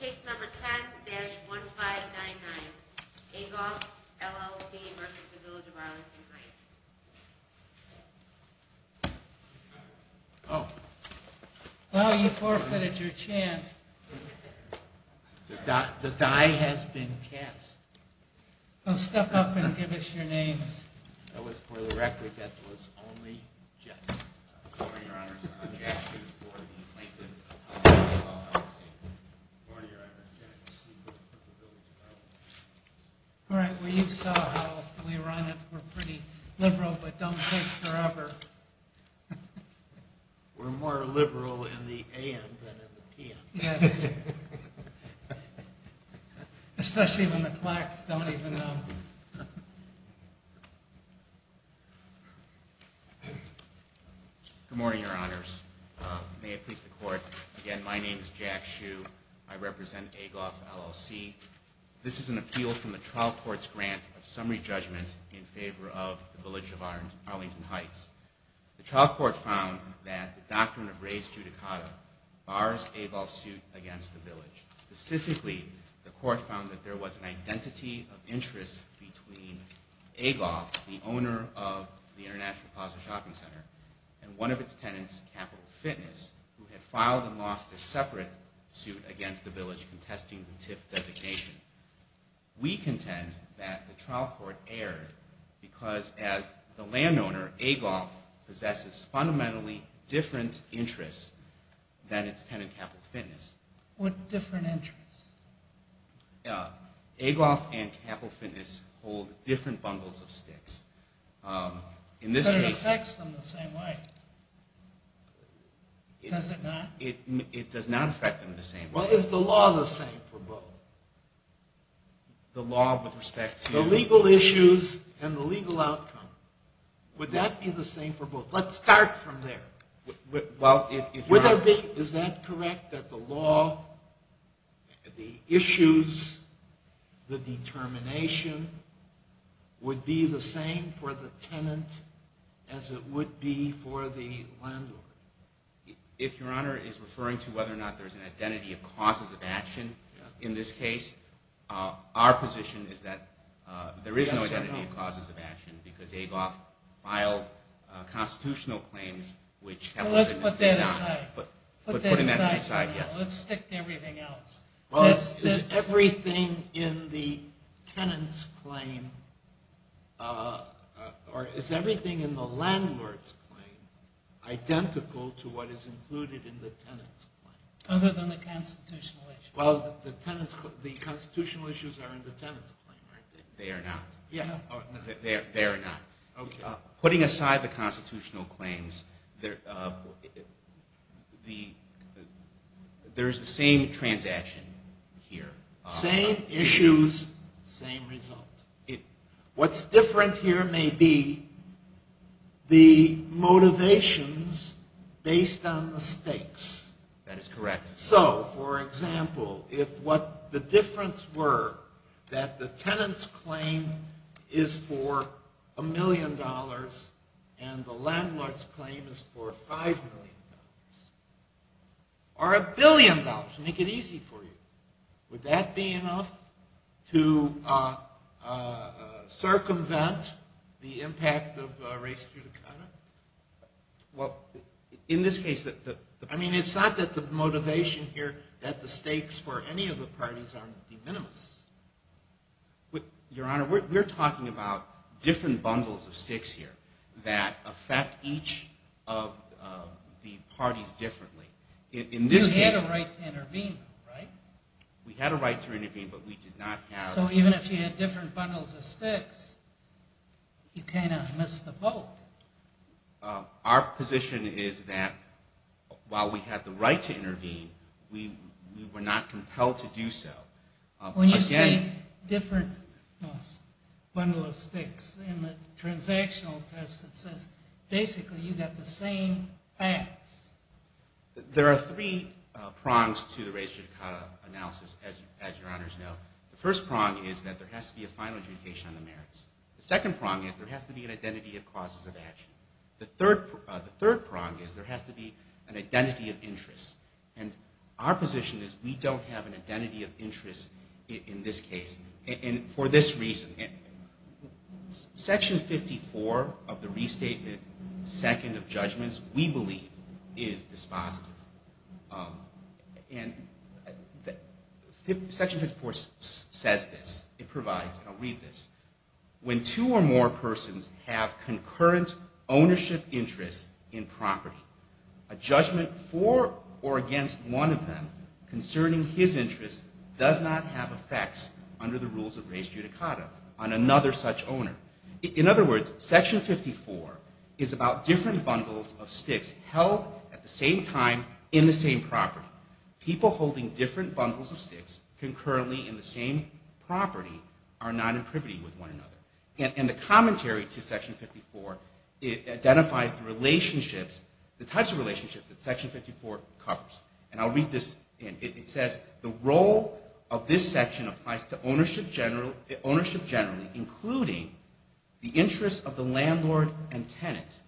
Case number 10-1599, Agolf, LLC v. Village of Arlington Heights. Well, you forfeited your chance. The die has been cast. Well, step up and give us your names. That was for the record, that was only just. I'm sorry, Your Honor, I'm Jack Schultz, board of the plaintiff of Agolf, LLC. I'm sorry, Your Honor, I'm Jack Schultz, board of the Village of Arlington Heights. All right, well you saw how we run it. We're pretty liberal, but don't take forever. We're more liberal in the a.m. than in the p.m. Yes. Especially when the clacks don't even know. Good morning, Your Honors. May it please the Court. Again, my name is Jack Schultz. I represent Agolf, LLC. This is an appeal from the trial court's grant of summary judgment in favor of the Village of Arlington Heights. The trial court found that the doctrine of res judicata bars Agolf's suit against the Village. Specifically, the court found that there was an identity of interest between Agolf, the owner of the International Plaza Shopping Center, and one of its tenants, Capital Fitness, who had filed and lost a separate suit against the Village contesting the TIF designation. We contend that the trial court erred because, as the landowner, Agolf possesses fundamentally different interests than its tenant, Capital Fitness. What different interests? Agolf and Capital Fitness hold different bundles of sticks. But it affects them the same way. Does it not? It does not affect them the same way. Well, is the law the same for both? The law with respect to? The legal issues and the legal outcome. Would that be the same for both? Let's start from there. Well, it is not. Is that correct, that the law, the issues, the determination, would be the same for the tenant as it would be for the landlord? If Your Honor is referring to whether or not there's an identity of causes of action, in this case, our position is that there is no identity of causes of action because Agolf filed constitutional claims, Let's put that aside. Let's stick to everything else. Well, is everything in the tenant's claim, or is everything in the landlord's claim, identical to what is included in the tenant's claim? Other than the constitutional issues. Well, the constitutional issues are in the tenant's claim, aren't they? They are not. They are not. Putting aside the constitutional claims, there is the same transaction here. Same issues, same result. What's different here may be the motivations based on the stakes. That is correct. So, for example, if what the difference were that the tenant's claim is for a million dollars and the landlord's claim is for five million dollars, or a billion dollars, make it easy for you. Would that be enough to circumvent the impact of race due to conduct? Well, in this case... I mean, it's not that the motivation here, that the stakes for any of the parties are de minimis. Your Honor, we're talking about different bundles of sticks here that affect each of the parties differently. You had a right to intervene, right? We had a right to intervene, but we did not have... So even if you had different bundles of sticks, you kind of missed the boat. Our position is that while we had the right to intervene, we were not compelled to do so. When you say different bundles of sticks, in the transactional test it says basically you got the same facts. There are three prongs to the race judicata analysis, as Your Honors know. The first prong is that there has to be a final adjudication on the merits. The second prong is there has to be an identity of causes of action. The third prong is there has to be an identity of interest. And our position is we don't have an identity of interest in this case, and for this reason. Section 54 of the Restatement, Second of Judgments, we believe is dispositive. And Section 54 says this, it provides, and I'll read this. When two or more persons have concurrent ownership interests in property, a judgment for or against one of them concerning his interests does not have effects, under the rules of race judicata, on another such owner. In other words, Section 54 is about different bundles of sticks held at the same time in the same property. People holding different bundles of sticks concurrently in the same property are not in privity with one another. And the commentary to Section 54, it identifies the relationships, the types of relationships that Section 54 covers. And I'll read this, and it says the role of this section applies to ownership generally, including the interests of the landlord and tenant.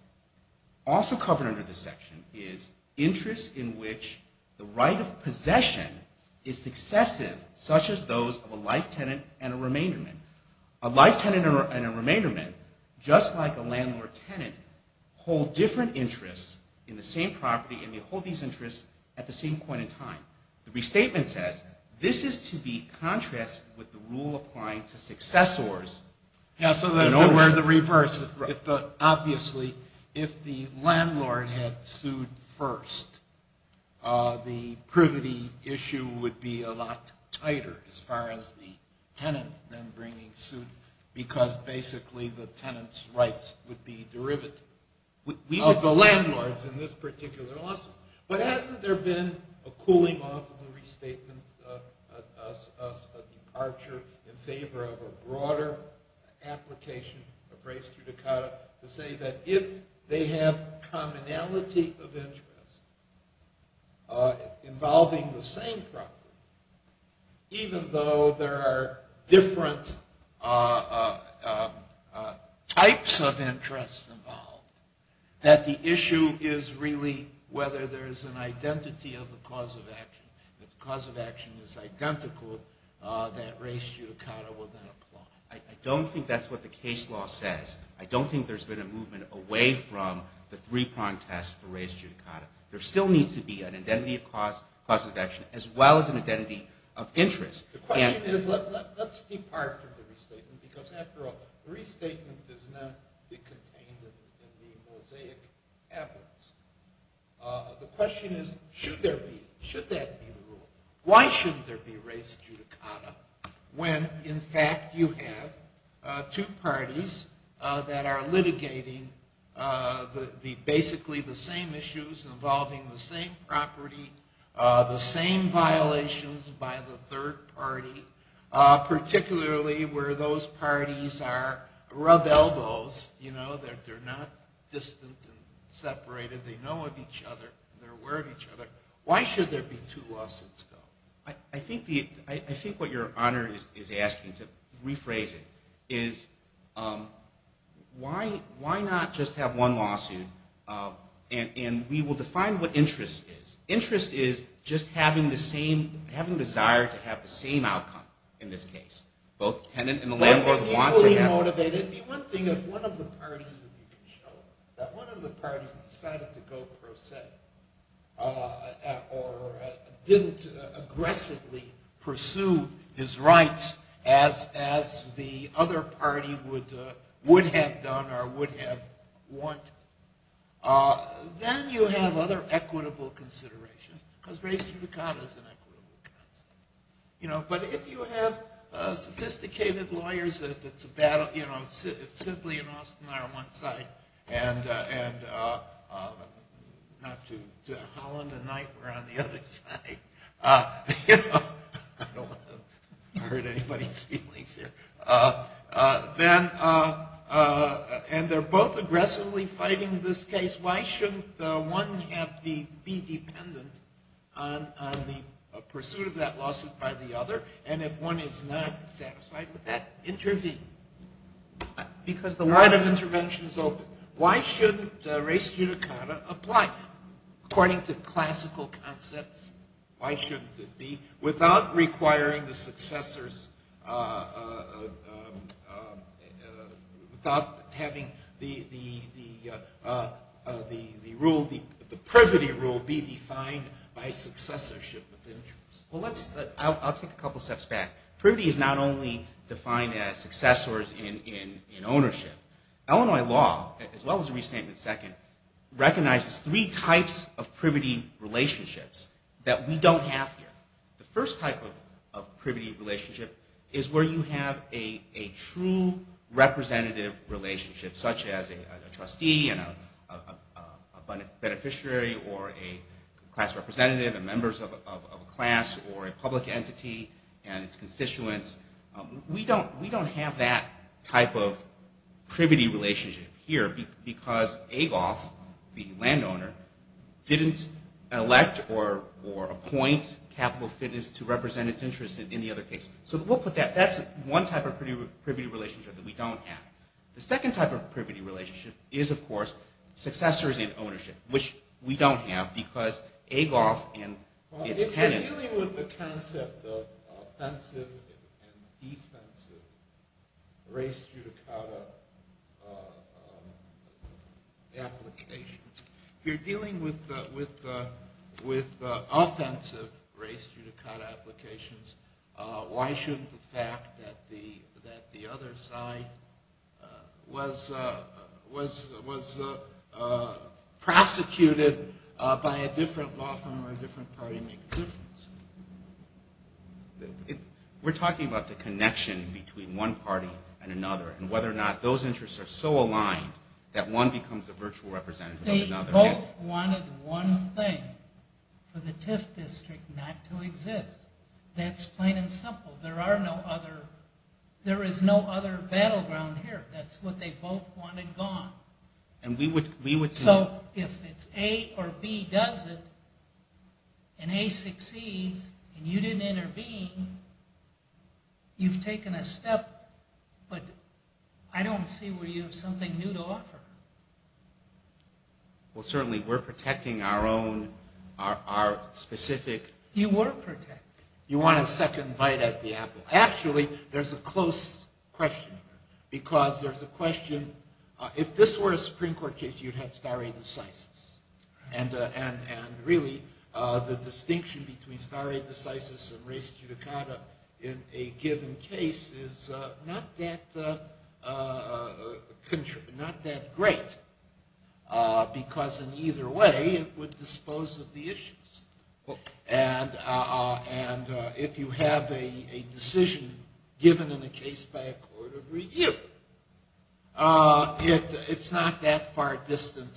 Also covered under this section is interests in which the right of possession is successive, such as those of a life tenant and a remainderment. A life tenant and a remainderment, just like a landlord-tenant, hold different interests in the same property, and they hold these interests at the same point in time. The restatement says this is to be contrasted with the rule applying to successors. So we're in the reverse. Obviously, if the landlord had sued first, the privity issue would be a lot tighter, as far as the tenant then bringing suit, because basically the tenant's rights would be derivative of the landlord's in this particular lawsuit. But hasn't there been a cooling off of the restatement, a departure in favor of a broader application of res judicata, to say that if they have commonality of interest involving the same property, even though there are different types of interest involved, that the issue is really whether there is an identity of the cause of action. If the cause of action is identical, that res judicata will then apply. I don't think that's what the case law says. I don't think there's been a movement away from the three-prong test for res judicata. There still needs to be an identity of cause of action, as well as an identity of interest. Let's depart from the restatement, because after all, the restatement does not contain the mosaic evidence. The question is, should that be the rule? Why shouldn't there be res judicata when, in fact, you have two parties that are litigating basically the same issues involving the same property, the same violations by the third party, particularly where those parties are rub elbows, you know, that they're not distant and separated, they know of each other, they're aware of each other. Why should there be two lawsuits, though? I think what your honor is asking, to rephrase it, is why not just have one lawsuit, and we will define what interest is. Interest is just having the desire to have the same outcome in this case. Both the tenant and the landlord want to have... It would be one thing if one of the parties decided to go pro se, or didn't aggressively pursue his rights as the other party would have done or would have wanted. Then you have other equitable considerations, because res judicata is an equitable concept. But if you have sophisticated lawyers, if Sidley and Austin are on one side, and Holland and Knight were on the other side, I don't want to hurt anybody's feelings here, and they're both aggressively fighting this case, why shouldn't one be dependent on the pursuit of that lawsuit by the other, and if one is not satisfied with that, intervene? Because the line of intervention is open. Why shouldn't res judicata apply according to classical concepts? Why shouldn't it be without requiring the successors, without having the privity rule be defined by successorship of interest? I'll take a couple steps back. Privity is not only defined as successors in ownership. Illinois law, as well as Restatement II, recognizes three types of privity relationships that we don't have here. The first type of privity relationship is where you have a true representative relationship, such as a trustee and a beneficiary or a class representative and members of a class or a public entity and its constituents. We don't have that type of privity relationship here because Agoff, the landowner, didn't elect or appoint Capital Fitness to represent its interest in the other case. So we'll put that. That's one type of privity relationship that we don't have. The second type of privity relationship is, of course, successors in ownership, which we don't have because Agoff and its tenants... If you're dealing with the concept of offensive and defensive race judicata applications, if you're dealing with offensive race judicata applications, why shouldn't the fact that the other side was prosecuted by a different law firm or a different party make a difference? We're talking about the connection between one party and another and whether or not those interests are so aligned that one becomes a virtual representative of another. They both wanted one thing for the TIF district not to exist. That's plain and simple. There is no other battleground here. That's what they both wanted gone. So if it's A or B does it and A succeeds and you didn't intervene, you've taken a step, but I don't see where you have something new to offer. Well, certainly we're protecting our own, our specific... You were protecting. You want a second bite at the apple. Actually, there's a close question here because there's a question. If this were a Supreme Court case, you'd have stare decisis, and really the distinction between stare decisis and race judicata in a given case is not that great because in either way it would dispose of the issues. And if you have a decision given in a case by a court of review, it's not that far distant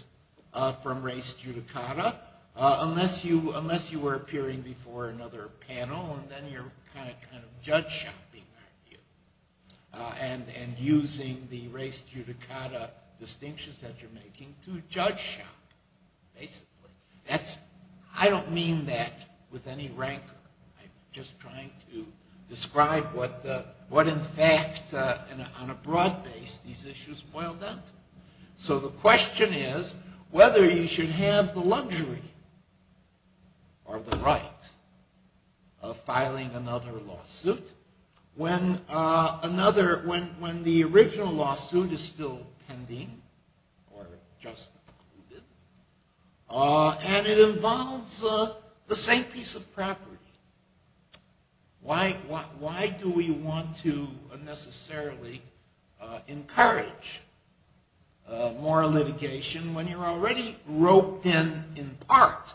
from race judicata unless you were appearing before another panel and then you're kind of judge shopping, aren't you, and using the race judicata distinctions that you're making to judge shop. Basically, I don't mean that with any rancor. I'm just trying to describe what in fact on a broad base these issues boil down to. So the question is whether you should have the luxury or the right of filing another lawsuit when the original lawsuit is still pending or just concluded and it involves the same piece of property. Why do we want to necessarily encourage moral litigation when you're already roped in in part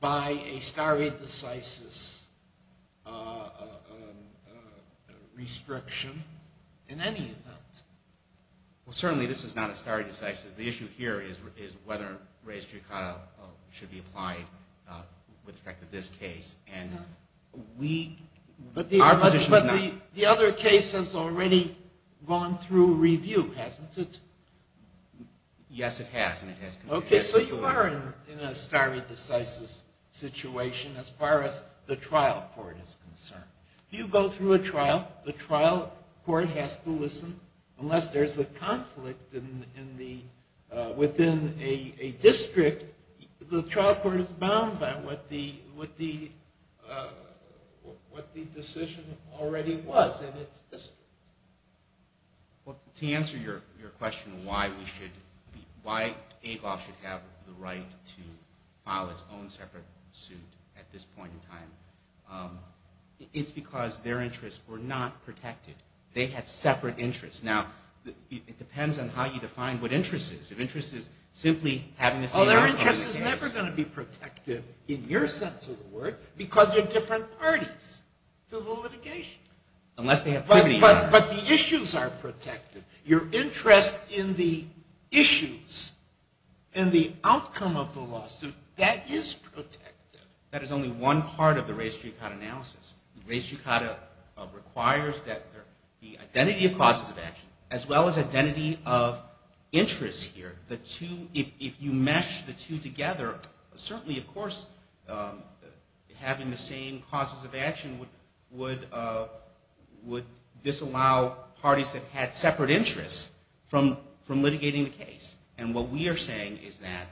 by a stare decisis restriction in any event? Well, certainly this is not a stare decisis. The issue here is whether race judicata should be applied with respect to this case. But the other case has already gone through review, hasn't it? Yes, it has. Okay, so you are in a stare decisis situation as far as the trial court is concerned. If you go through a trial, the trial court has to listen. Unless there's a conflict within a district, the trial court is bound by what the decision already was in its district. Well, to answer your question why AGOF should have the right to file its own separate suit at this point in time, it's because their interests were not protected. They had separate interests. Now, it depends on how you define what interest is. If interest is simply having the same outcome as the case. Well, their interest is never going to be protective in your sense of the word because they're different parties to the litigation. Unless they have privity. But the issues are protected. Your interest in the issues and the outcome of the lawsuit, that is protected. That is only one part of the race judicata analysis. Race judicata requires that the identity of causes of action as well as identity of interest here, if you mesh the two together, certainly, of course, having the same causes of action would disallow parties that had separate interests from litigating the case. And what we are saying is that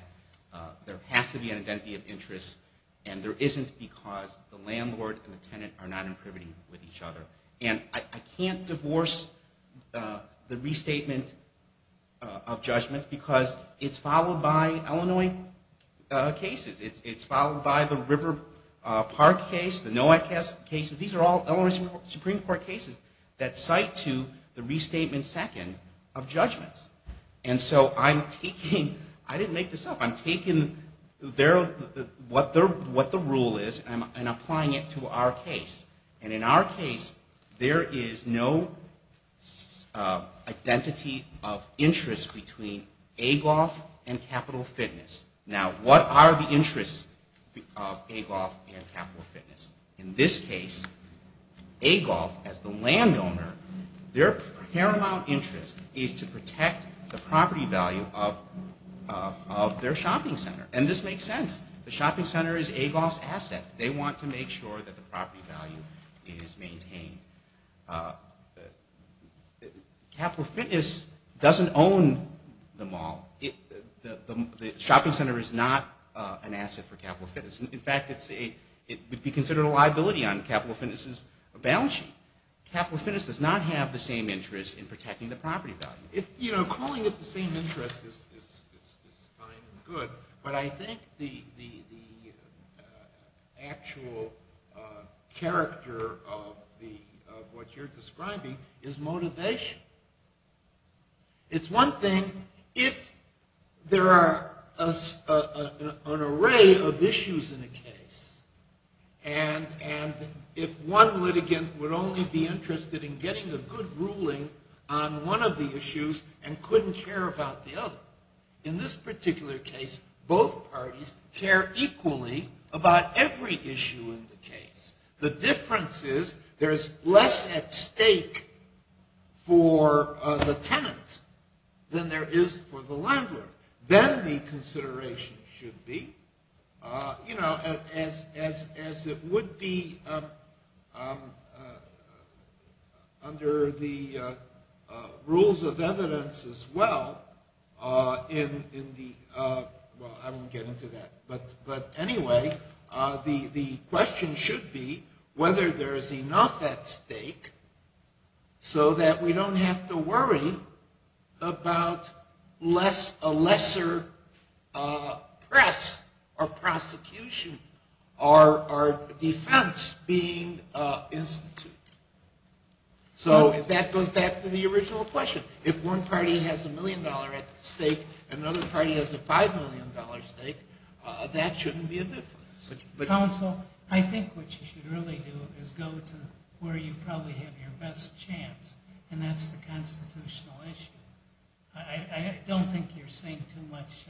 there has to be an identity of interest and there isn't because the landlord and the tenant are not in privity with each other. And I can't divorce the restatement of judgments because it's followed by Illinois cases. It's followed by the River Park case, the NOAC cases. These are all Illinois Supreme Court cases that cite to the restatement second of judgments. And so I'm taking, I didn't make this up, I'm taking what the rule is and applying it to our case. And in our case, there is no identity of interest between AGOF and Capital Fitness. Now, what are the interests of AGOF and Capital Fitness? In this case, AGOF, as the landowner, their paramount interest is to protect the property value of their shopping center. And this makes sense. The shopping center is AGOF's asset. They want to make sure that the property value is maintained. Capital Fitness doesn't own the mall. The shopping center is not an asset for Capital Fitness. In fact, it would be considered a liability on Capital Fitness's balance sheet. Capital Fitness does not have the same interest in protecting the property value. You know, calling it the same interest is fine and good, but I think the actual character of what you're describing is motivation. It's one thing if there are an array of issues in a case, and if one litigant would only be interested in getting a good ruling on one of the issues and couldn't care about the other. In this particular case, both parties care equally about every issue in the case. The difference is there is less at stake for the tenant than there is for the landlord. Then the consideration should be, you know, as it would be under the rules of evidence as well, well, I won't get into that. But anyway, the question should be whether there is enough at stake so that we don't have to worry about a lesser press or prosecution or defense being instituted. So that goes back to the original question. If one party has a million dollar at stake and another party has a five million dollar stake, that shouldn't be a difference. Council, I think what you should really do is go to where you probably have your best chance, and that's the constitutional issue. I don't think you're seeing too much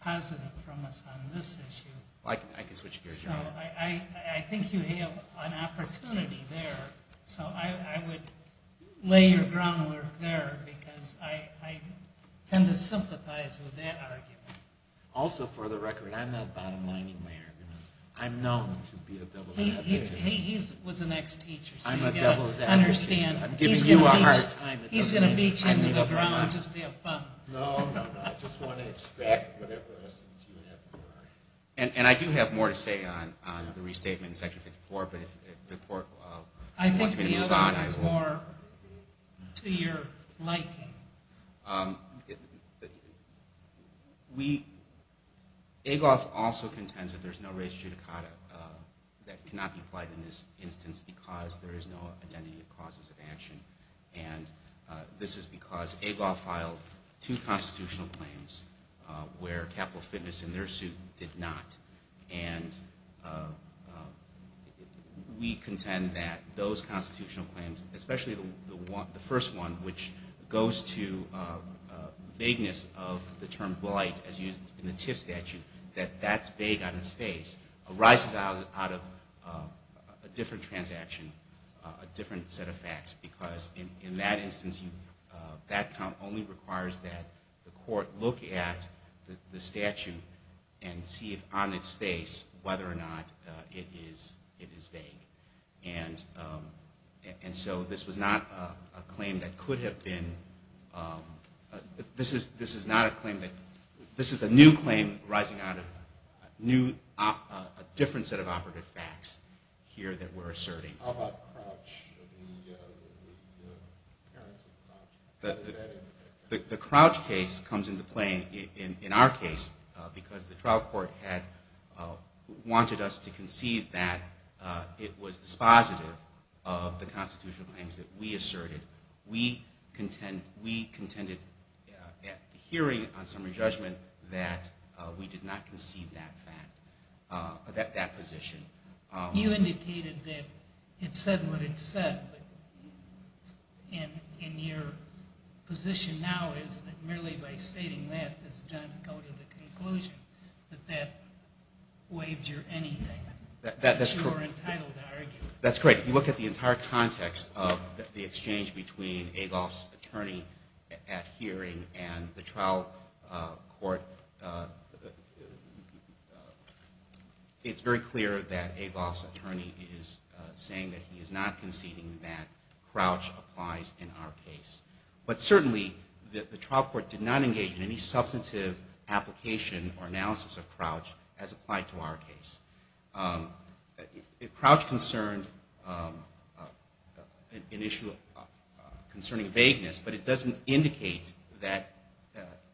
positive from us on this issue. I guess what you're getting at. I think you have an opportunity there, so I would lay your groundwork there because I tend to sympathize with that argument. Also, for the record, I'm not bottom lining my arguments. I'm known to be a devil's advocate. He was an ex-teacher. I'm a devil's advocate. I'm giving you a hard time. He's going to beat you to the ground just to have fun. No, no, no. I just want to expect whatever essence you have for it. And I do have more to say on the restatement in Section 54. I think the other one is more to your liking. Agoff also contends that there's no res judicata that cannot be applied in this instance because there is no identity of causes of action, and this is because Agoff filed two constitutional claims where Capital Fitness in their suit did not, and we contend that those constitutional claims, especially the first one, which goes to vagueness of the term blight as used in the TIF statute, that that's vague on its face arises out of a different transaction, a different set of facts, because in that instance, that count only requires that the court look at the statute and see on its face whether or not it is vague. And so this was not a claim that could have been. This is a new claim arising out of a different set of operative facts here that we're asserting. How about Crouch? The Crouch case comes into play in our case because the trial court had wanted us to concede that it was dispositive of the constitutional claims that we asserted. We contended at the hearing on summary judgment that we did not concede that position. You indicated that it said what it said, but in your position now is that merely by stating that does not go to the conclusion, that that waives your anything, that you're entitled to argue. That's correct. If you look at the entire context of the exchange between Agoff's attorney at hearing and the trial court, it's very clear that Agoff's attorney is saying that he is not conceding that Crouch applies in our case. But certainly the trial court did not engage in any substantive application or analysis of Crouch as applied to our case. Crouch concerned an issue concerning vagueness, but it doesn't indicate that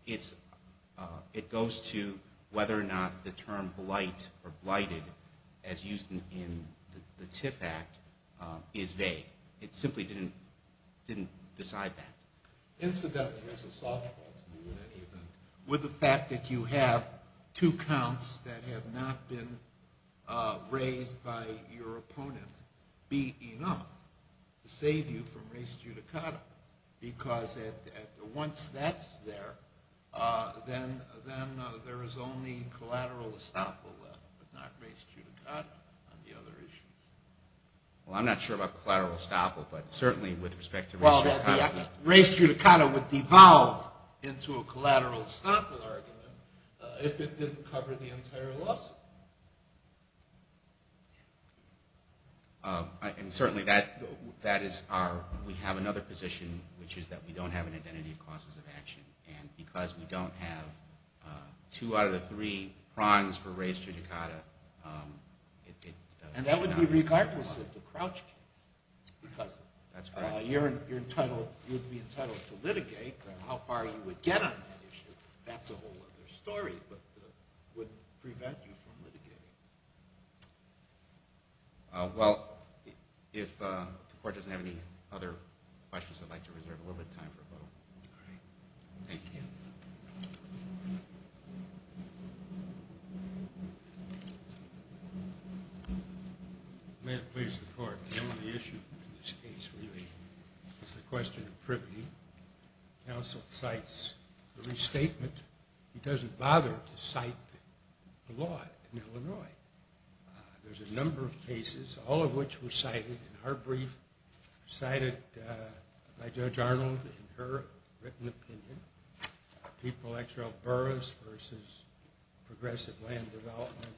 it goes to whether or not the term blight or blighted as used in the TIF Act is vague. It simply didn't decide that. Incidentally, there's a soft point to me in any event, with the fact that you have two counts that have not been raised by your opponent, be enough to save you from res judicata, because once that's there, then there is only collateral estoppel left, but not res judicata on the other issues. Well, I'm not sure about collateral estoppel, but certainly with respect to res judicata. Res judicata would devolve into a collateral estoppel argument if it didn't cover the entire lawsuit. And certainly that is our, we have another position, which is that we don't have an identity of causes of action, and because we don't have two out of the three prongs for res judicata, it should not be a problem. Because you would be entitled to litigate on how far you would get on that issue. That's a whole other story, but it wouldn't prevent you from litigating. Well, if the court doesn't have any other questions, I'd like to reserve a little bit of time for a vote. All right. Thank you. May it please the court, the only issue in this case really is the question of privity. Counsel cites the restatement. He doesn't bother to cite the law in Illinois. There's a number of cases, all of which were cited in her brief, cited by Judge Arnold in her written opinion. People X.L. Burroughs v. Progressive Land Development,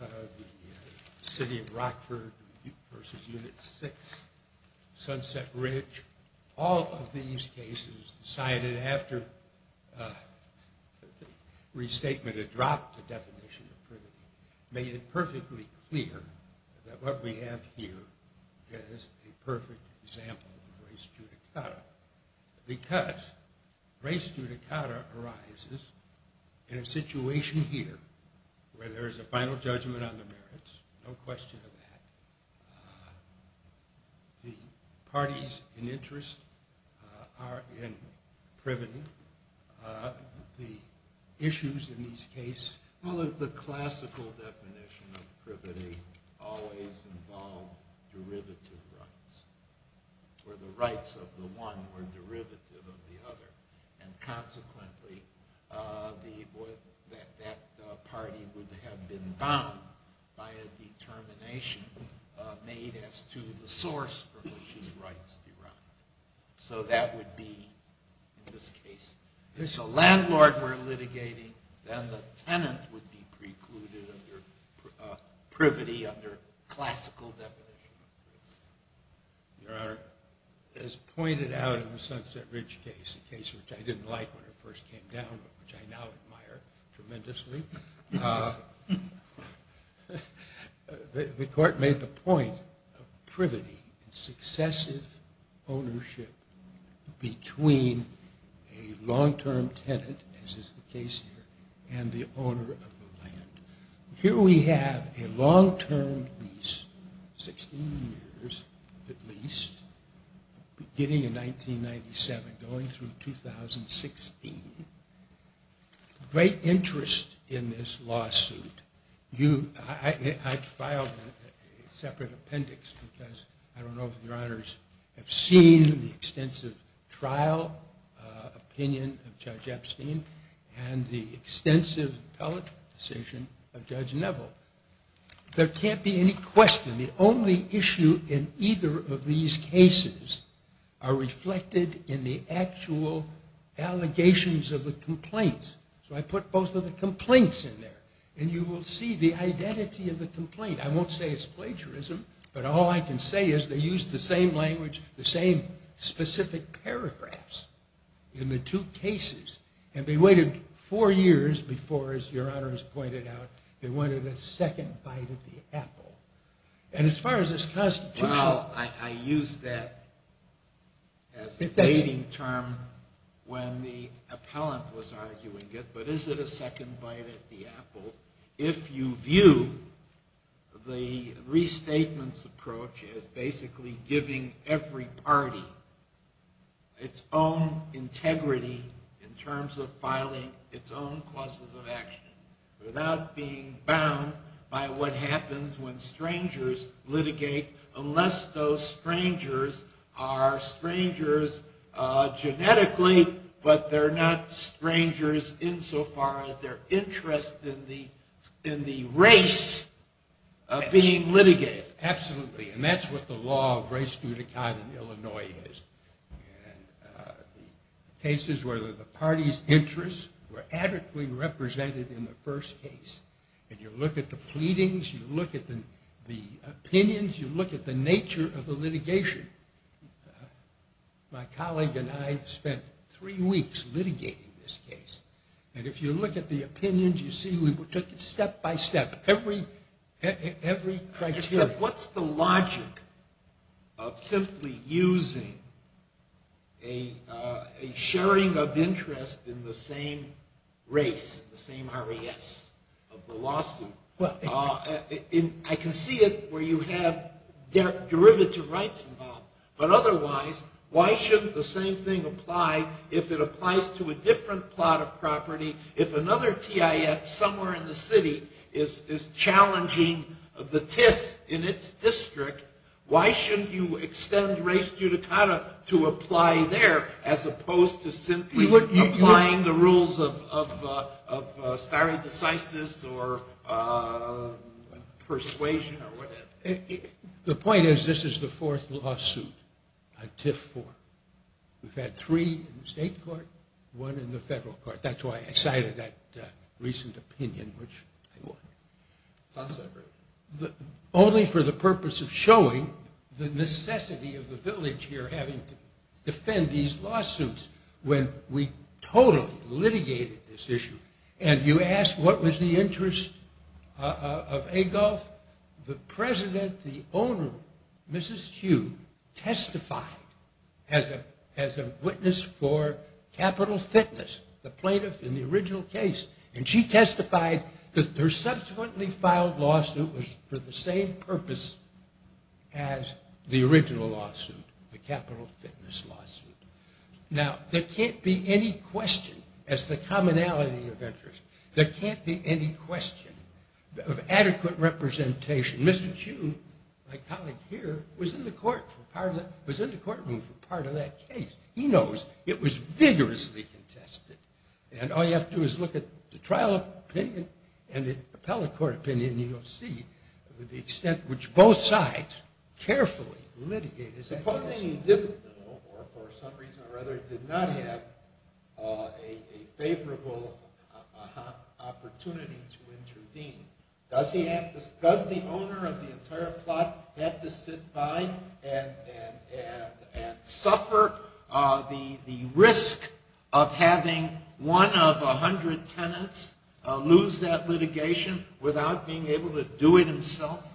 the city of Rockford v. Unit 6, Sunset Ridge, all of these cases cited after the restatement had dropped the definition of privity, made it perfectly clear that what we have here is a perfect example of res judicata. Because res judicata arises in a situation here where there is a final judgment on the merits, no question of that, the parties in interest are in privity. The issues in these cases— Well, the classical definition of privity always involved derivative rights where the rights of the one were derivative of the other. And consequently, that party would have been bound by a determination made as to the source from which his rights derived. So that would be, in this case, if it's a landlord we're litigating, then the tenant would be precluded under privity under classical definition of privity. Your Honor, as pointed out in the Sunset Ridge case, a case which I didn't like when it first came down but which I now admire tremendously, the court made the point of privity and successive ownership between a long-term tenant, as is the case here, and the owner of the land. Here we have a long-term lease, 16 years at least, beginning in 1997, going through 2016. Great interest in this lawsuit. I filed a separate appendix because I don't know if Your Honors have seen the extensive trial opinion of Judge Epstein and the extensive appellate decision of Judge Neville. There can't be any question. The only issue in either of these cases are reflected in the actual allegations of the complaints. So I put both of the complaints in there, and you will see the identity of the complaint. I won't say it's plagiarism, but all I can say is they used the same language, the same specific paragraphs in the two cases, and they waited four years before, as Your Honors pointed out, they wanted a second bite at the apple. And as far as this Constitution... Well, I used that as a dating term when the appellant was arguing it, but is it a second bite at the apple if you view the restatements approach as basically giving every party its own integrity in terms of filing its own causes of action without being bound by what happens when strangers litigate, unless those strangers are strangers genetically, but they're not strangers insofar as their interest in the race being litigated? Absolutely, and that's what the law of race due to kind in Illinois is. Cases where the party's interests were adequately represented in the first case, and you look at the pleadings, you look at the opinions, you look at the nature of the litigation. My colleague and I spent three weeks litigating this case, and if you look at the opinions, you see we took it step by step, every criteria. Except what's the logic of simply using a sharing of interest in the same race, the same RAS of the lawsuit? I can see it where you have derivative rights involved, but otherwise, why shouldn't the same thing apply if it applies to a different plot of property? If another TIF somewhere in the city is challenging the TIF in its district, why shouldn't you extend race due to kind to apply there, as opposed to simply applying the rules of stare decisis or persuasion or whatever? The point is, this is the fourth lawsuit on TIF 4. We've had three in the state court, one in the federal court. That's why I cited that recent opinion, which I won't. Only for the purpose of showing the necessity of the village here having to defend these lawsuits when we totally litigated this issue, and you ask what was the interest of AGOLF? Well, the president, the owner, Mrs. Hugh, testified as a witness for Capital Fitness, the plaintiff in the original case, and she testified that her subsequently filed lawsuit was for the same purpose as the original lawsuit, the Capital Fitness lawsuit. Now, there can't be any question, as the commonality of interest, there can't be any question of adequate representation. Mr. Chu, my colleague here, was in the courtroom for part of that case. He knows it was vigorously contested, and all you have to do is look at the trial opinion and the appellate court opinion, and you'll see the extent to which both sides carefully litigated. Supposing he did, or for some reason or other did not have, a favorable opportunity to intervene, does the owner of the entire plot have to sit by and suffer the risk of having one of 100 tenants lose that litigation without being able to do it himself?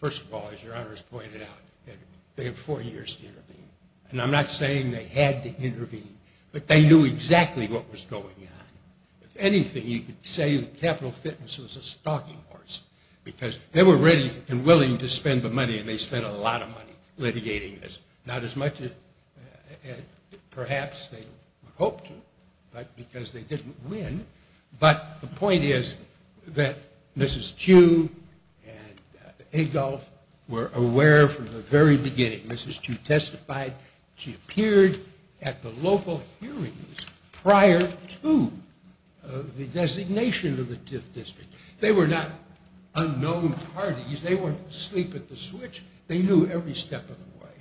First of all, as your honors pointed out, they have four years to intervene, and I'm not saying they had to intervene, but they knew exactly what was going on. If anything, you could say that Capital Fitness was a stalking horse, because they were ready and willing to spend the money, and they spent a lot of money litigating this. Not as much as perhaps they would hope to, but because they didn't win. But the point is that Mrs. Chu and Adolph were aware from the very beginning. Mrs. Chu testified. She appeared at the local hearings prior to the designation of the TIF district. They were not unknown parties. They weren't asleep at the switch. They knew every step of the way,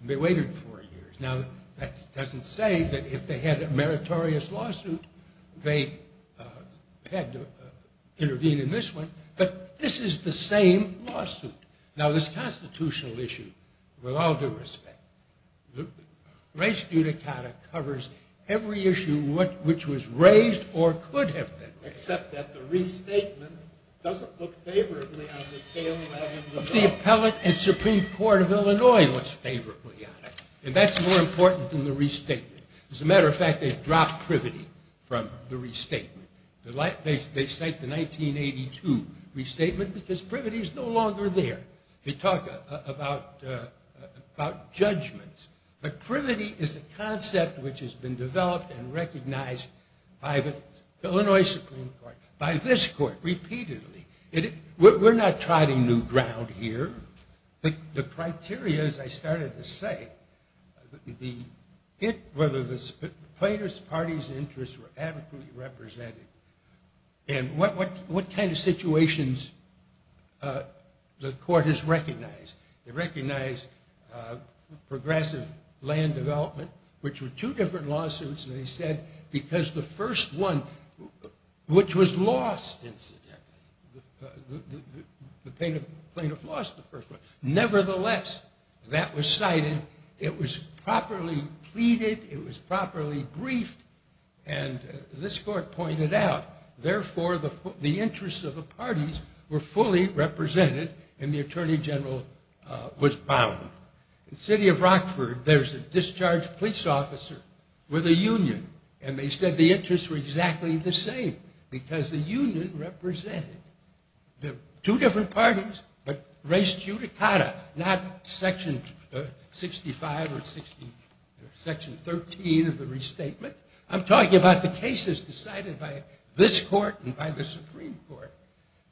and they waited four years. Now, that doesn't say that if they had a meritorious lawsuit, they had to intervene in this one, but this is the same lawsuit. Now, this constitutional issue, with all due respect, race judicata covers every issue which was raised or could have been raised. Except that the restatement doesn't look favorably on the tail wagons of law. The Appellate and Supreme Court of Illinois looks favorably on it, and that's more important than the restatement. As a matter of fact, they've dropped privity from the restatement. They cite the 1982 restatement because privity is no longer there. They talk about judgments, but privity is a concept which has been developed and recognized by the Illinois Supreme Court, by this court repeatedly. We're not trotting new ground here. The criteria, as I started to say, whether the plaintiff's party's interests were adequately represented and what kind of situations the court has recognized. They recognized progressive land development, which were two different lawsuits, they said, because the first one, which was lost, incidentally, the plaintiff lost the first one. Nevertheless, that was cited. It was properly pleaded. It was properly briefed. And this court pointed out, therefore, the interests of the parties were fully represented and the attorney general was bound. In the city of Rockford, there's a discharged police officer with a union, and they said the interests were exactly the same because the union represented the two different parties, but res judicata, not section 65 or section 13 of the restatement. I'm talking about the cases decided by this court and by the Supreme Court.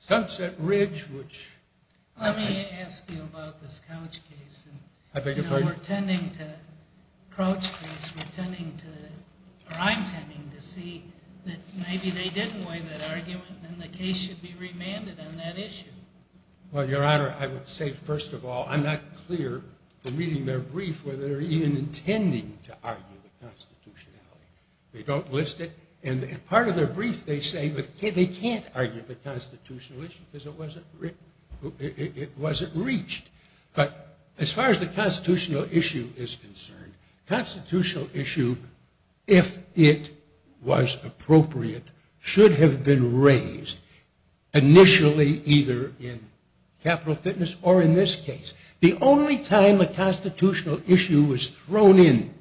Sunset Ridge, which- Let me ask you about this Crouch case. We're tending to, or I'm tending to see that maybe they didn't waive that argument and the case should be remanded on that issue. Well, Your Honor, I would say, first of all, I'm not clear from reading their brief whether they're even intending to argue the constitutionality. They don't list it. And part of their brief, they say they can't argue the constitutional issue because it wasn't reached. But as far as the constitutional issue is concerned, constitutional issue, if it was appropriate, should have been raised initially either in capital fitness or in this case. The only time the constitutional issue was thrown in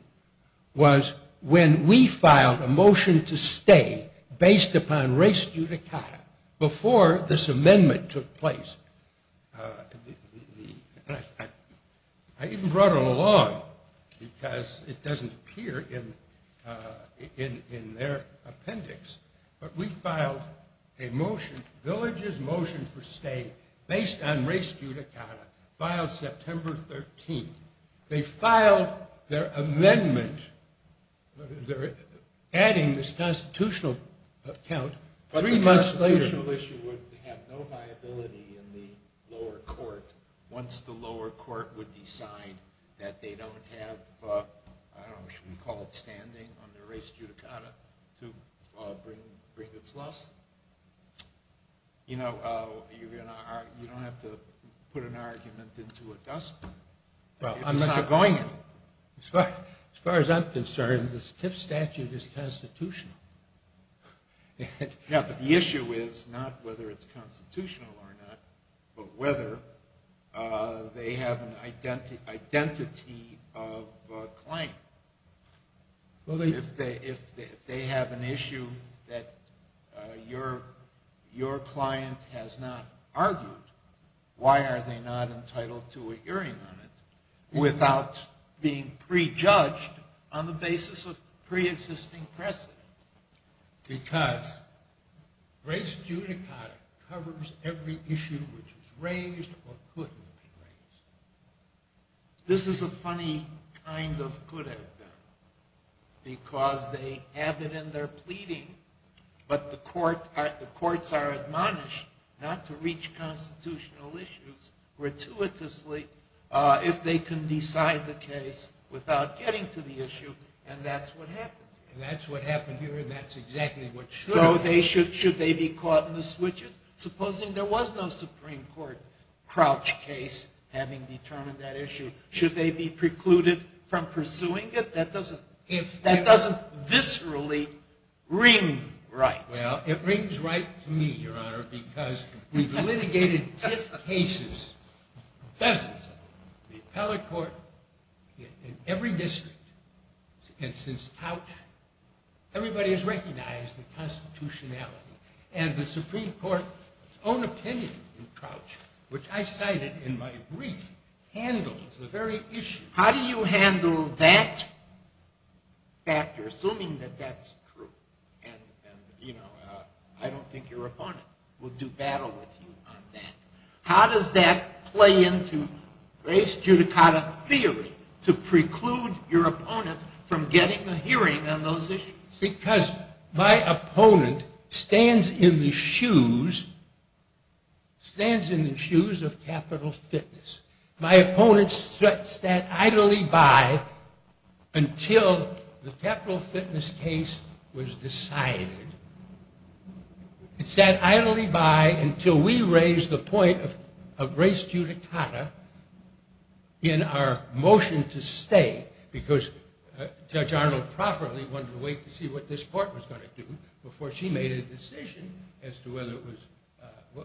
was when we filed a motion to stay based upon res judicata before this amendment took place. I even brought it along because it doesn't appear in their appendix. But we filed a motion, Village's motion for stay based on res judicata, filed September 13th. They filed their amendment. They're adding this constitutional count three months later. But the constitutional issue would have no viability in the lower court once the lower court would decide that they don't have, I don't know, should we call it standing on their res judicata to bring its loss. You know, you don't have to put an argument into a dustbin. Well, I'm not going to. As far as I'm concerned, the TIF statute is constitutional. Yeah, but the issue is not whether it's constitutional or not, but whether they have an identity of a claim. If they have an issue that your client has not argued, why are they not entitled to a hearing on it without being prejudged on the basis of preexisting precedent? Because res judicata covers every issue which is raised or couldn't be raised. This is a funny kind of could have been because they have it in their pleading, but the courts are admonished not to reach constitutional issues gratuitously if they can decide the case without getting to the issue, and that's what happened. And that's what happened here, and that's exactly what should have happened. So should they be caught in the switches? Supposing there was no Supreme Court crouch case having determined that issue, should they be precluded from pursuing it? That doesn't viscerally ring right. Well, it rings right to me, Your Honor, because we've litigated TIF cases, dozens of them. The appellate court in every district is against this couch. Everybody has recognized the constitutionality, and the Supreme Court's own opinion in crouch, which I cited in my brief, handles the very issue. How do you handle that factor, assuming that that's true? And, you know, I don't think your opponent would do battle with you on that. How does that play into res judicata theory to preclude your opponent from getting a hearing on those issues? Because my opponent stands in the shoes of capital fitness. My opponent sat idly by until the capital fitness case was decided. It sat idly by until we raised the point of res judicata in our motion to stay, because Judge Arnold properly wanted to wait to see what this court was going to do before she made a decision as to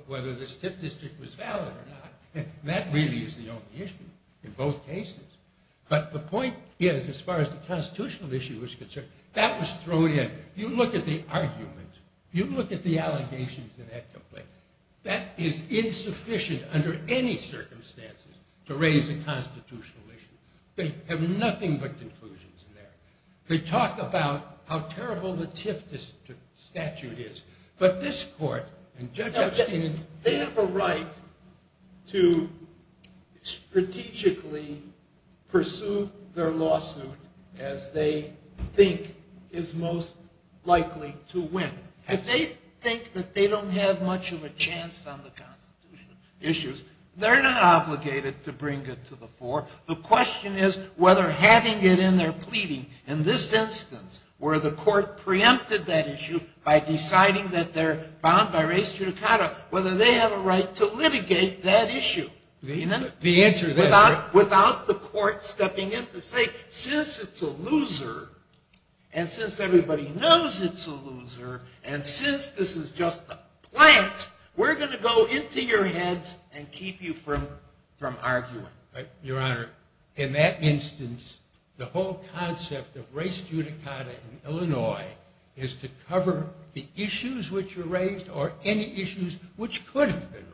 whether this TIF district was valid or not. And that really is the only issue in both cases. But the point is, as far as the constitutional issue is concerned, that was thrown in. If you look at the argument, if you look at the allegations in that complaint, that is insufficient under any circumstances to raise a constitutional issue. They have nothing but conclusions in there. They talk about how terrible the TIF district statute is. But this court and Judge Epstein, they have a right to strategically pursue their lawsuit as they think is most likely to win. If they think that they don't have much of a chance on the constitutional issues, they're not obligated to bring it to the fore. The question is whether having it in their pleading in this instance, where the court preempted that issue by deciding that they're bound by res judicata, whether they have a right to litigate that issue. Without the court stepping in to say, since it's a loser, and since everybody knows it's a loser, and since this is just a plant, we're going to go into your heads and keep you from arguing. Your Honor, in that instance, the whole concept of res judicata in Illinois is to cover the issues which were raised or any issues which could have been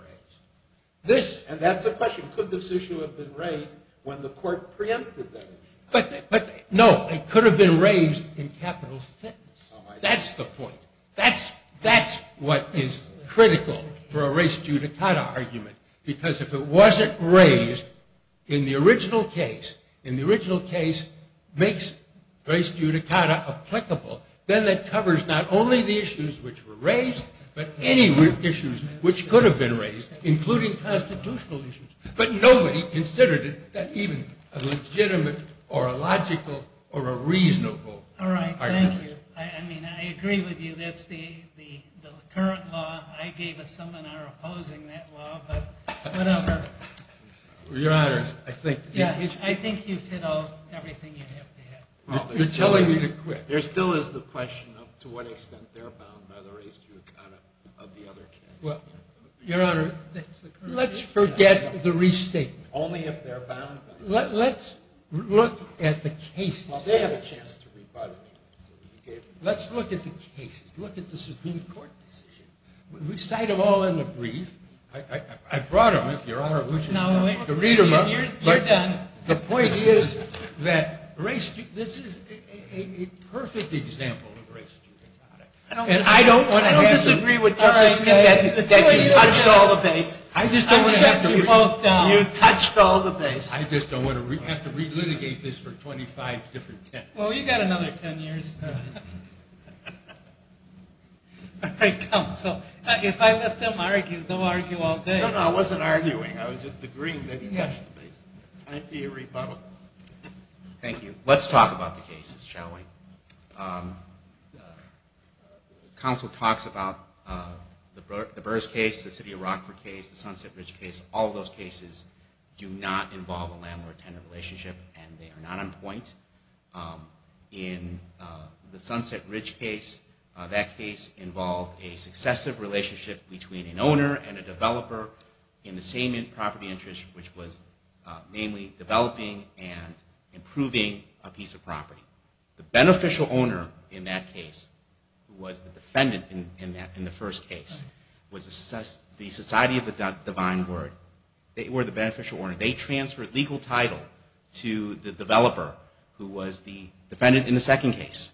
raised. And that's the question. Could this issue have been raised when the court preempted that issue? No. It could have been raised in capital fitness. That's the point. That's what is critical for a res judicata argument. Because if it wasn't raised in the original case, in the original case makes res judicata applicable. Then that covers not only the issues which were raised, but any issues which could have been raised, including constitutional issues. But nobody considered it even a legitimate or a logical or a reasonable argument. All right. Thank you. I mean, I agree with you. That's the current law. I gave a seminar opposing that law, but whatever. Your Honor, I think you've hit everything you have to hit. You're telling me to quit. There still is the question of to what extent they're bound by the res judicata of the other case. Your Honor, let's forget the restatement. Only if they're bound by it. Let's look at the cases. Well, they have a chance to rebut it. Let's look at the cases. Let's look at the Supreme Court decision. We cite them all in the brief. I brought them, if Your Honor wishes to read them up. You're done. The point is that this is a perfect example of res judicata. I don't disagree with Justice Ginsburg that you touched all the base. I just don't want to have to re- You touched all the base. I just don't want to have to re-litigate this for 25 different tenths. Well, you've got another ten years. If I let them argue, they'll argue all day. No, no, I wasn't arguing. I was just agreeing that he touched the base. Time for your rebuttal. Thank you. Let's talk about the cases, shall we? Counsel talks about the Burrs case, the City of Rockford case, the Sunset Ridge case. All those cases do not involve a landlord-tenant relationship and they are not on point. In the Sunset Ridge case, that case involved a successive relationship between an owner and a developer in the same property interest, which was mainly developing and improving a piece of property. The beneficial owner in that case, who was the defendant in the first case, was the Society of the Divine Word. They were the beneficial owner. They transferred legal title to the developer, who was the defendant in the second case.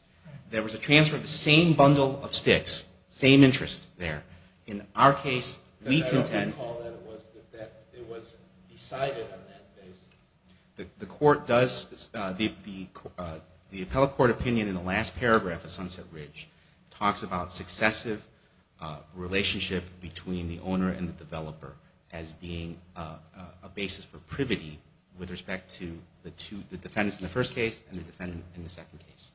There was a transfer of the same bundle of sticks, same interest there. In our case, we contend- I don't recall that it was decided on that basis. The court does, the appellate court opinion in the last paragraph of Sunset Ridge talks about successive relationship between the owner and the developer as being a basis for privity with respect to the defendants in the first case and the defendants in the second case.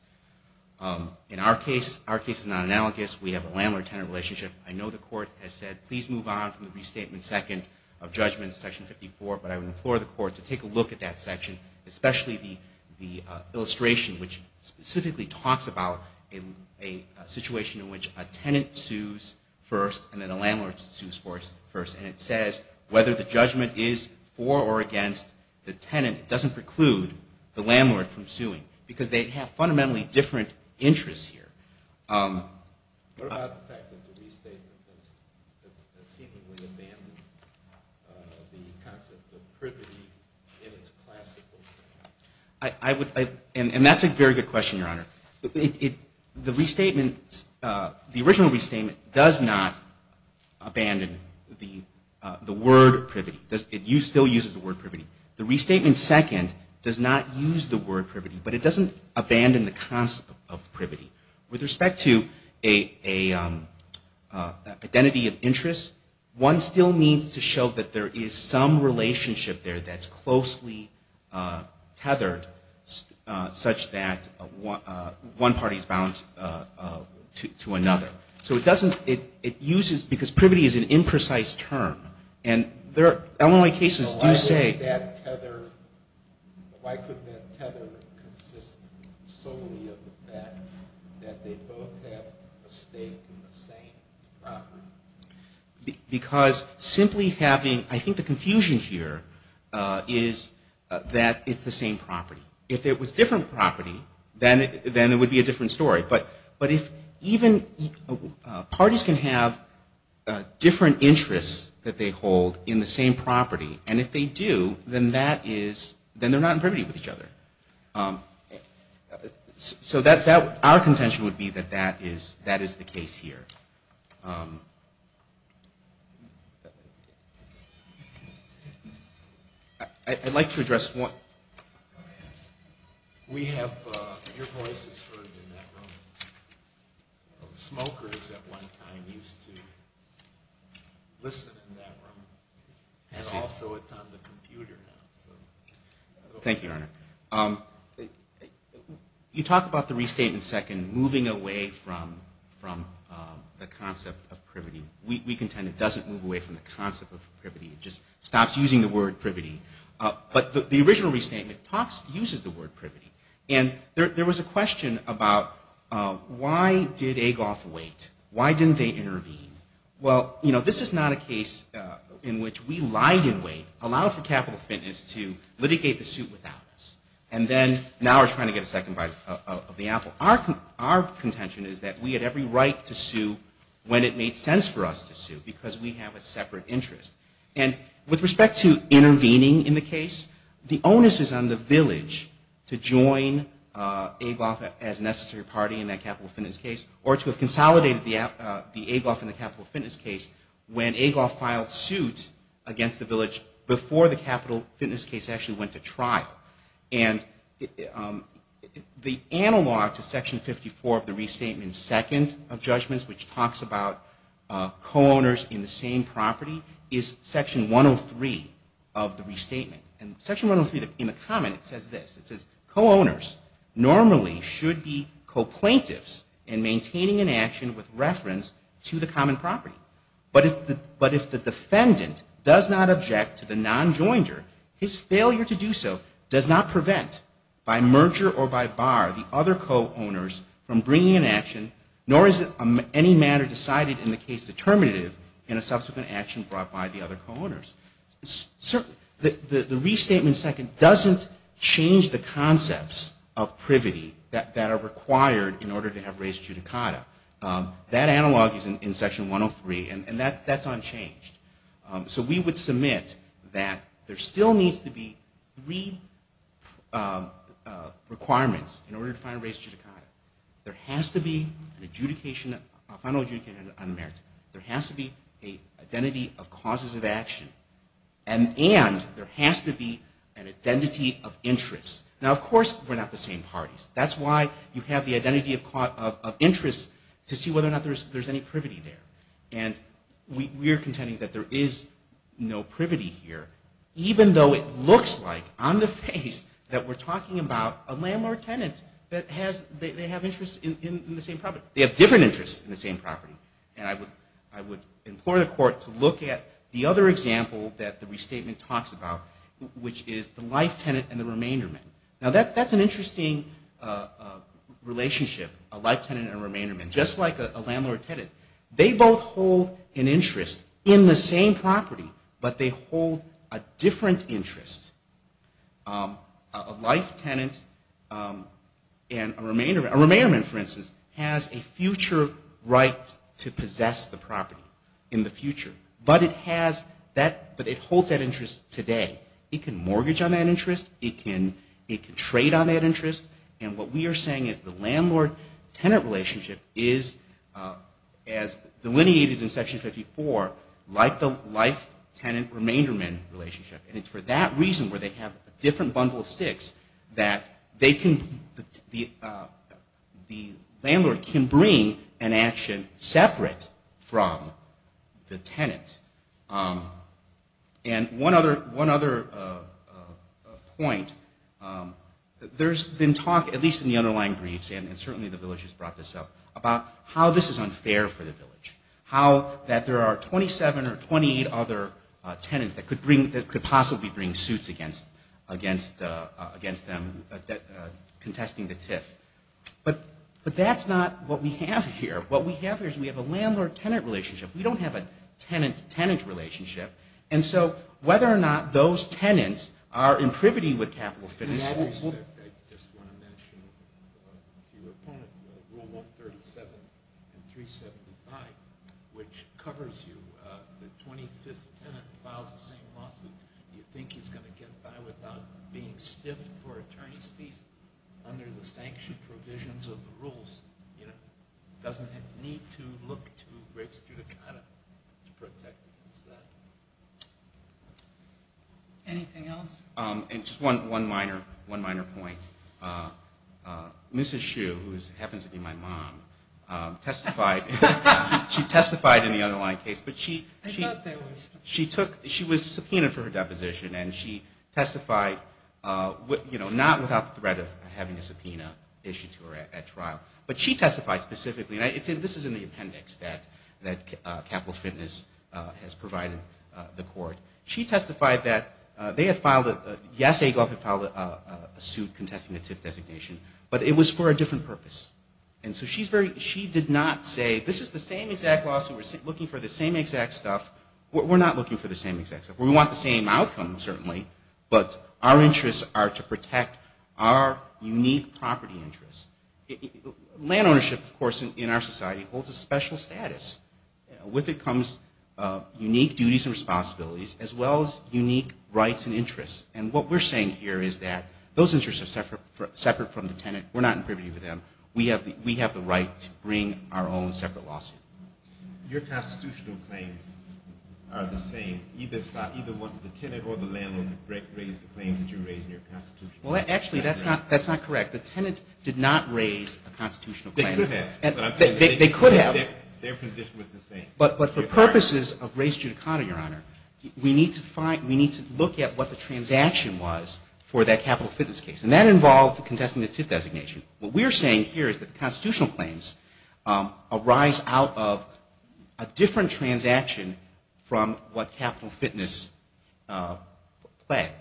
In our case, our case is not analogous. We have a landlord-tenant relationship. I know the court has said, please move on from the restatement second of judgment, section 54, but I would implore the court to take a look at that section, especially the illustration, which specifically talks about a situation in which a tenant sues first and then a landlord sues first. And it says, whether the judgment is for or against the tenant, it doesn't preclude the landlord from suing, because they have fundamentally different interests here. What about the fact that the restatement has seemingly abandoned the concept of privity in its classical sense? And that's a very good question, Your Honor. The restatement, the original restatement does not abandon the word privity. It still uses the word privity. The restatement second does not use the word privity, but it doesn't abandon the concept of privity. With respect to an identity of interest, one still needs to show that there is some relationship there that's closely tethered, such that one party is bound to another. So it doesn't, it uses, because privity is an imprecise term. Illinois cases do say... Why couldn't that tether consist solely of the fact that they both have a stake in the same property? Because simply having, I think the confusion here is that it's the same property. If it was a different property, then it would be a different story. But if even parties can have different interests that they hold in the same property, and if they do, then they're not in privity with each other. So our contention would be that that is the case here. I'd like to address one... We have, your voice is heard in that room. Smokers at one time used to listen in that room. So it's on the computer now. Thank you, Your Honor. You talk about the restatement second moving away from the concept of privity. We contend it doesn't move away from the concept of privity. It just stops using the word privity. But the original restatement uses the word privity. And there was a question about why did Agoff wait? Why didn't they intervene? Well, you know, this is not a case in which we lied in wait, allowed for capital defendants to litigate the suit without us. And then now we're trying to get a second bite of the apple. Our contention is that we had every right to sue when it made sense for us to sue, because we have a separate interest. And with respect to intervening in the case, the onus is on the village to join Agoff as a necessary party in that capital defendants case or to have consolidated the Agoff in the capital defendants case when Agoff filed suit against the village before the capital defendants case actually went to trial. And the analog to section 54 of the restatement second of judgments, which talks about co-owners in the same property, is section 103 of the restatement. And section 103, in the comment, it says this. It says, co-owners normally should be co-plaintiffs in maintaining an action with reference to the common property. But if the defendant does not object to the non-joinder, his failure to do so does not prevent by merger or by bar the other co-owners from bringing an action, nor is any matter decided in the case determinative in a subsequent action brought by the other co-owners. The restatement second doesn't change the concepts of privity that are required in order to have res judicata. That analog is in section 103, and that's unchanged. So we would submit that there still needs to be three requirements in order to There has to be an adjudication, a final adjudication on merit. There has to be an identity of causes of action. And there has to be an identity of interest. Now, of course, we're not the same parties. That's why you have the identity of interest to see whether or not there's any privity there. And we are contending that there is no privity here, even though it looks like on the face that we're talking about a landlord-tenant that they have interests in the same property. They have different interests in the same property. And I would implore the Court to look at the other example that the restatement talks about, which is the life tenant and the remainder man. Now, that's an interesting relationship, a life tenant and a remainder man, just like a landlord-tenant. They both hold an interest in the same property, but they hold a different interest. A life tenant and a remainder man, for instance, has a future right to possess the property in the future. But it holds that interest today. It can mortgage on that interest. It can trade on that interest. And what we are saying is the landlord-tenant relationship is, as delineated in Section 54, like the life-tenant-remainder-man relationship. And it's for that reason, where they have a different bundle of sticks, that the landlord can bring an action separate from the tenant. And one other point. There's been talk, at least in the underlying briefs, and certainly the village has brought this up, about how this is unfair for the village. How that there are 27 or 28 other tenants that could possibly bring suits against them contesting the TIF. But that's not what we have here. What we have here is we have a landlord-tenant relationship. We don't have a tenant-tenant relationship. And so whether or not those tenants are in privity with capital financials. I just want to mention to your opponent Rule 137 and 375, which covers you. The 25th tenant files the same lawsuit. Do you think he's going to get by without being stiffed for attorney's fees under the sanctioned provisions of the rules? It doesn't need to look too great to protect against that. Anything else? And just one minor point. Mrs. Shue, who happens to be my mom, testified in the underlying case. I thought there was. She was subpoenaed for her deposition, and she testified not without the threat of having a subpoena issued to her at trial, but she testified specifically, and this is in the appendix that Capital Fitness has provided the court. She testified that they had filed a, yes, Agoff had filed a suit contesting the TIF designation, but it was for a different purpose. And so she did not say, this is the same exact lawsuit. We're looking for the same exact stuff. We're not looking for the same exact stuff. We want the same outcome, certainly, but our interests are to protect our unique property interests. Land ownership, of course, in our society holds a special status. With it comes unique duties and responsibilities, as well as unique rights and interests. And what we're saying here is that those interests are separate from the tenant. We're not in privity with them. We have the right to bring our own separate lawsuit. Your constitutional claims are the same. Either the tenant or the landlord raised the claims that you raised in your constitution. Well, actually, that's not correct. The tenant did not raise a constitutional claim. They could have. They could have. Their position was the same. But for purposes of race judicata, Your Honor, we need to find, we need to look at what the transaction was for that Capital Fitness case, and that involved contesting the TIF designation. What we're saying here is that constitutional claims arise out of a different transaction from what Capital Fitness pled.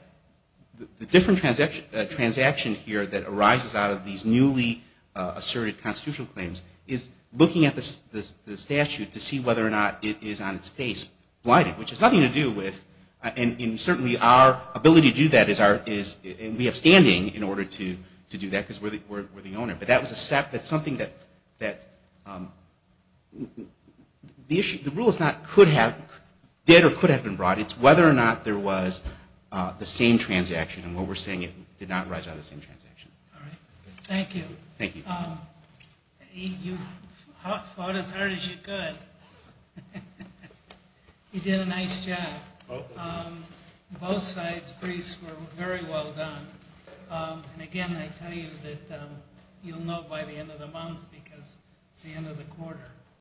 The different transaction here that arises out of these newly asserted constitutional claims is looking at the statute to see whether or not it is on its face blighted, which has nothing to do with, and certainly our ability to do that is, and we have standing in order to do that because we're the owner. But that was something that, the rule is not could have, did or could have been brought. It's whether or not there was the same transaction, and what we're saying is it did not arise out of the same transaction. All right. Thank you. Thank you. You fought as hard as you could. You did a nice job. Both sides' briefs were very well done. And, again, I tell you that you'll know by the end of the month because it's the end of the quarter.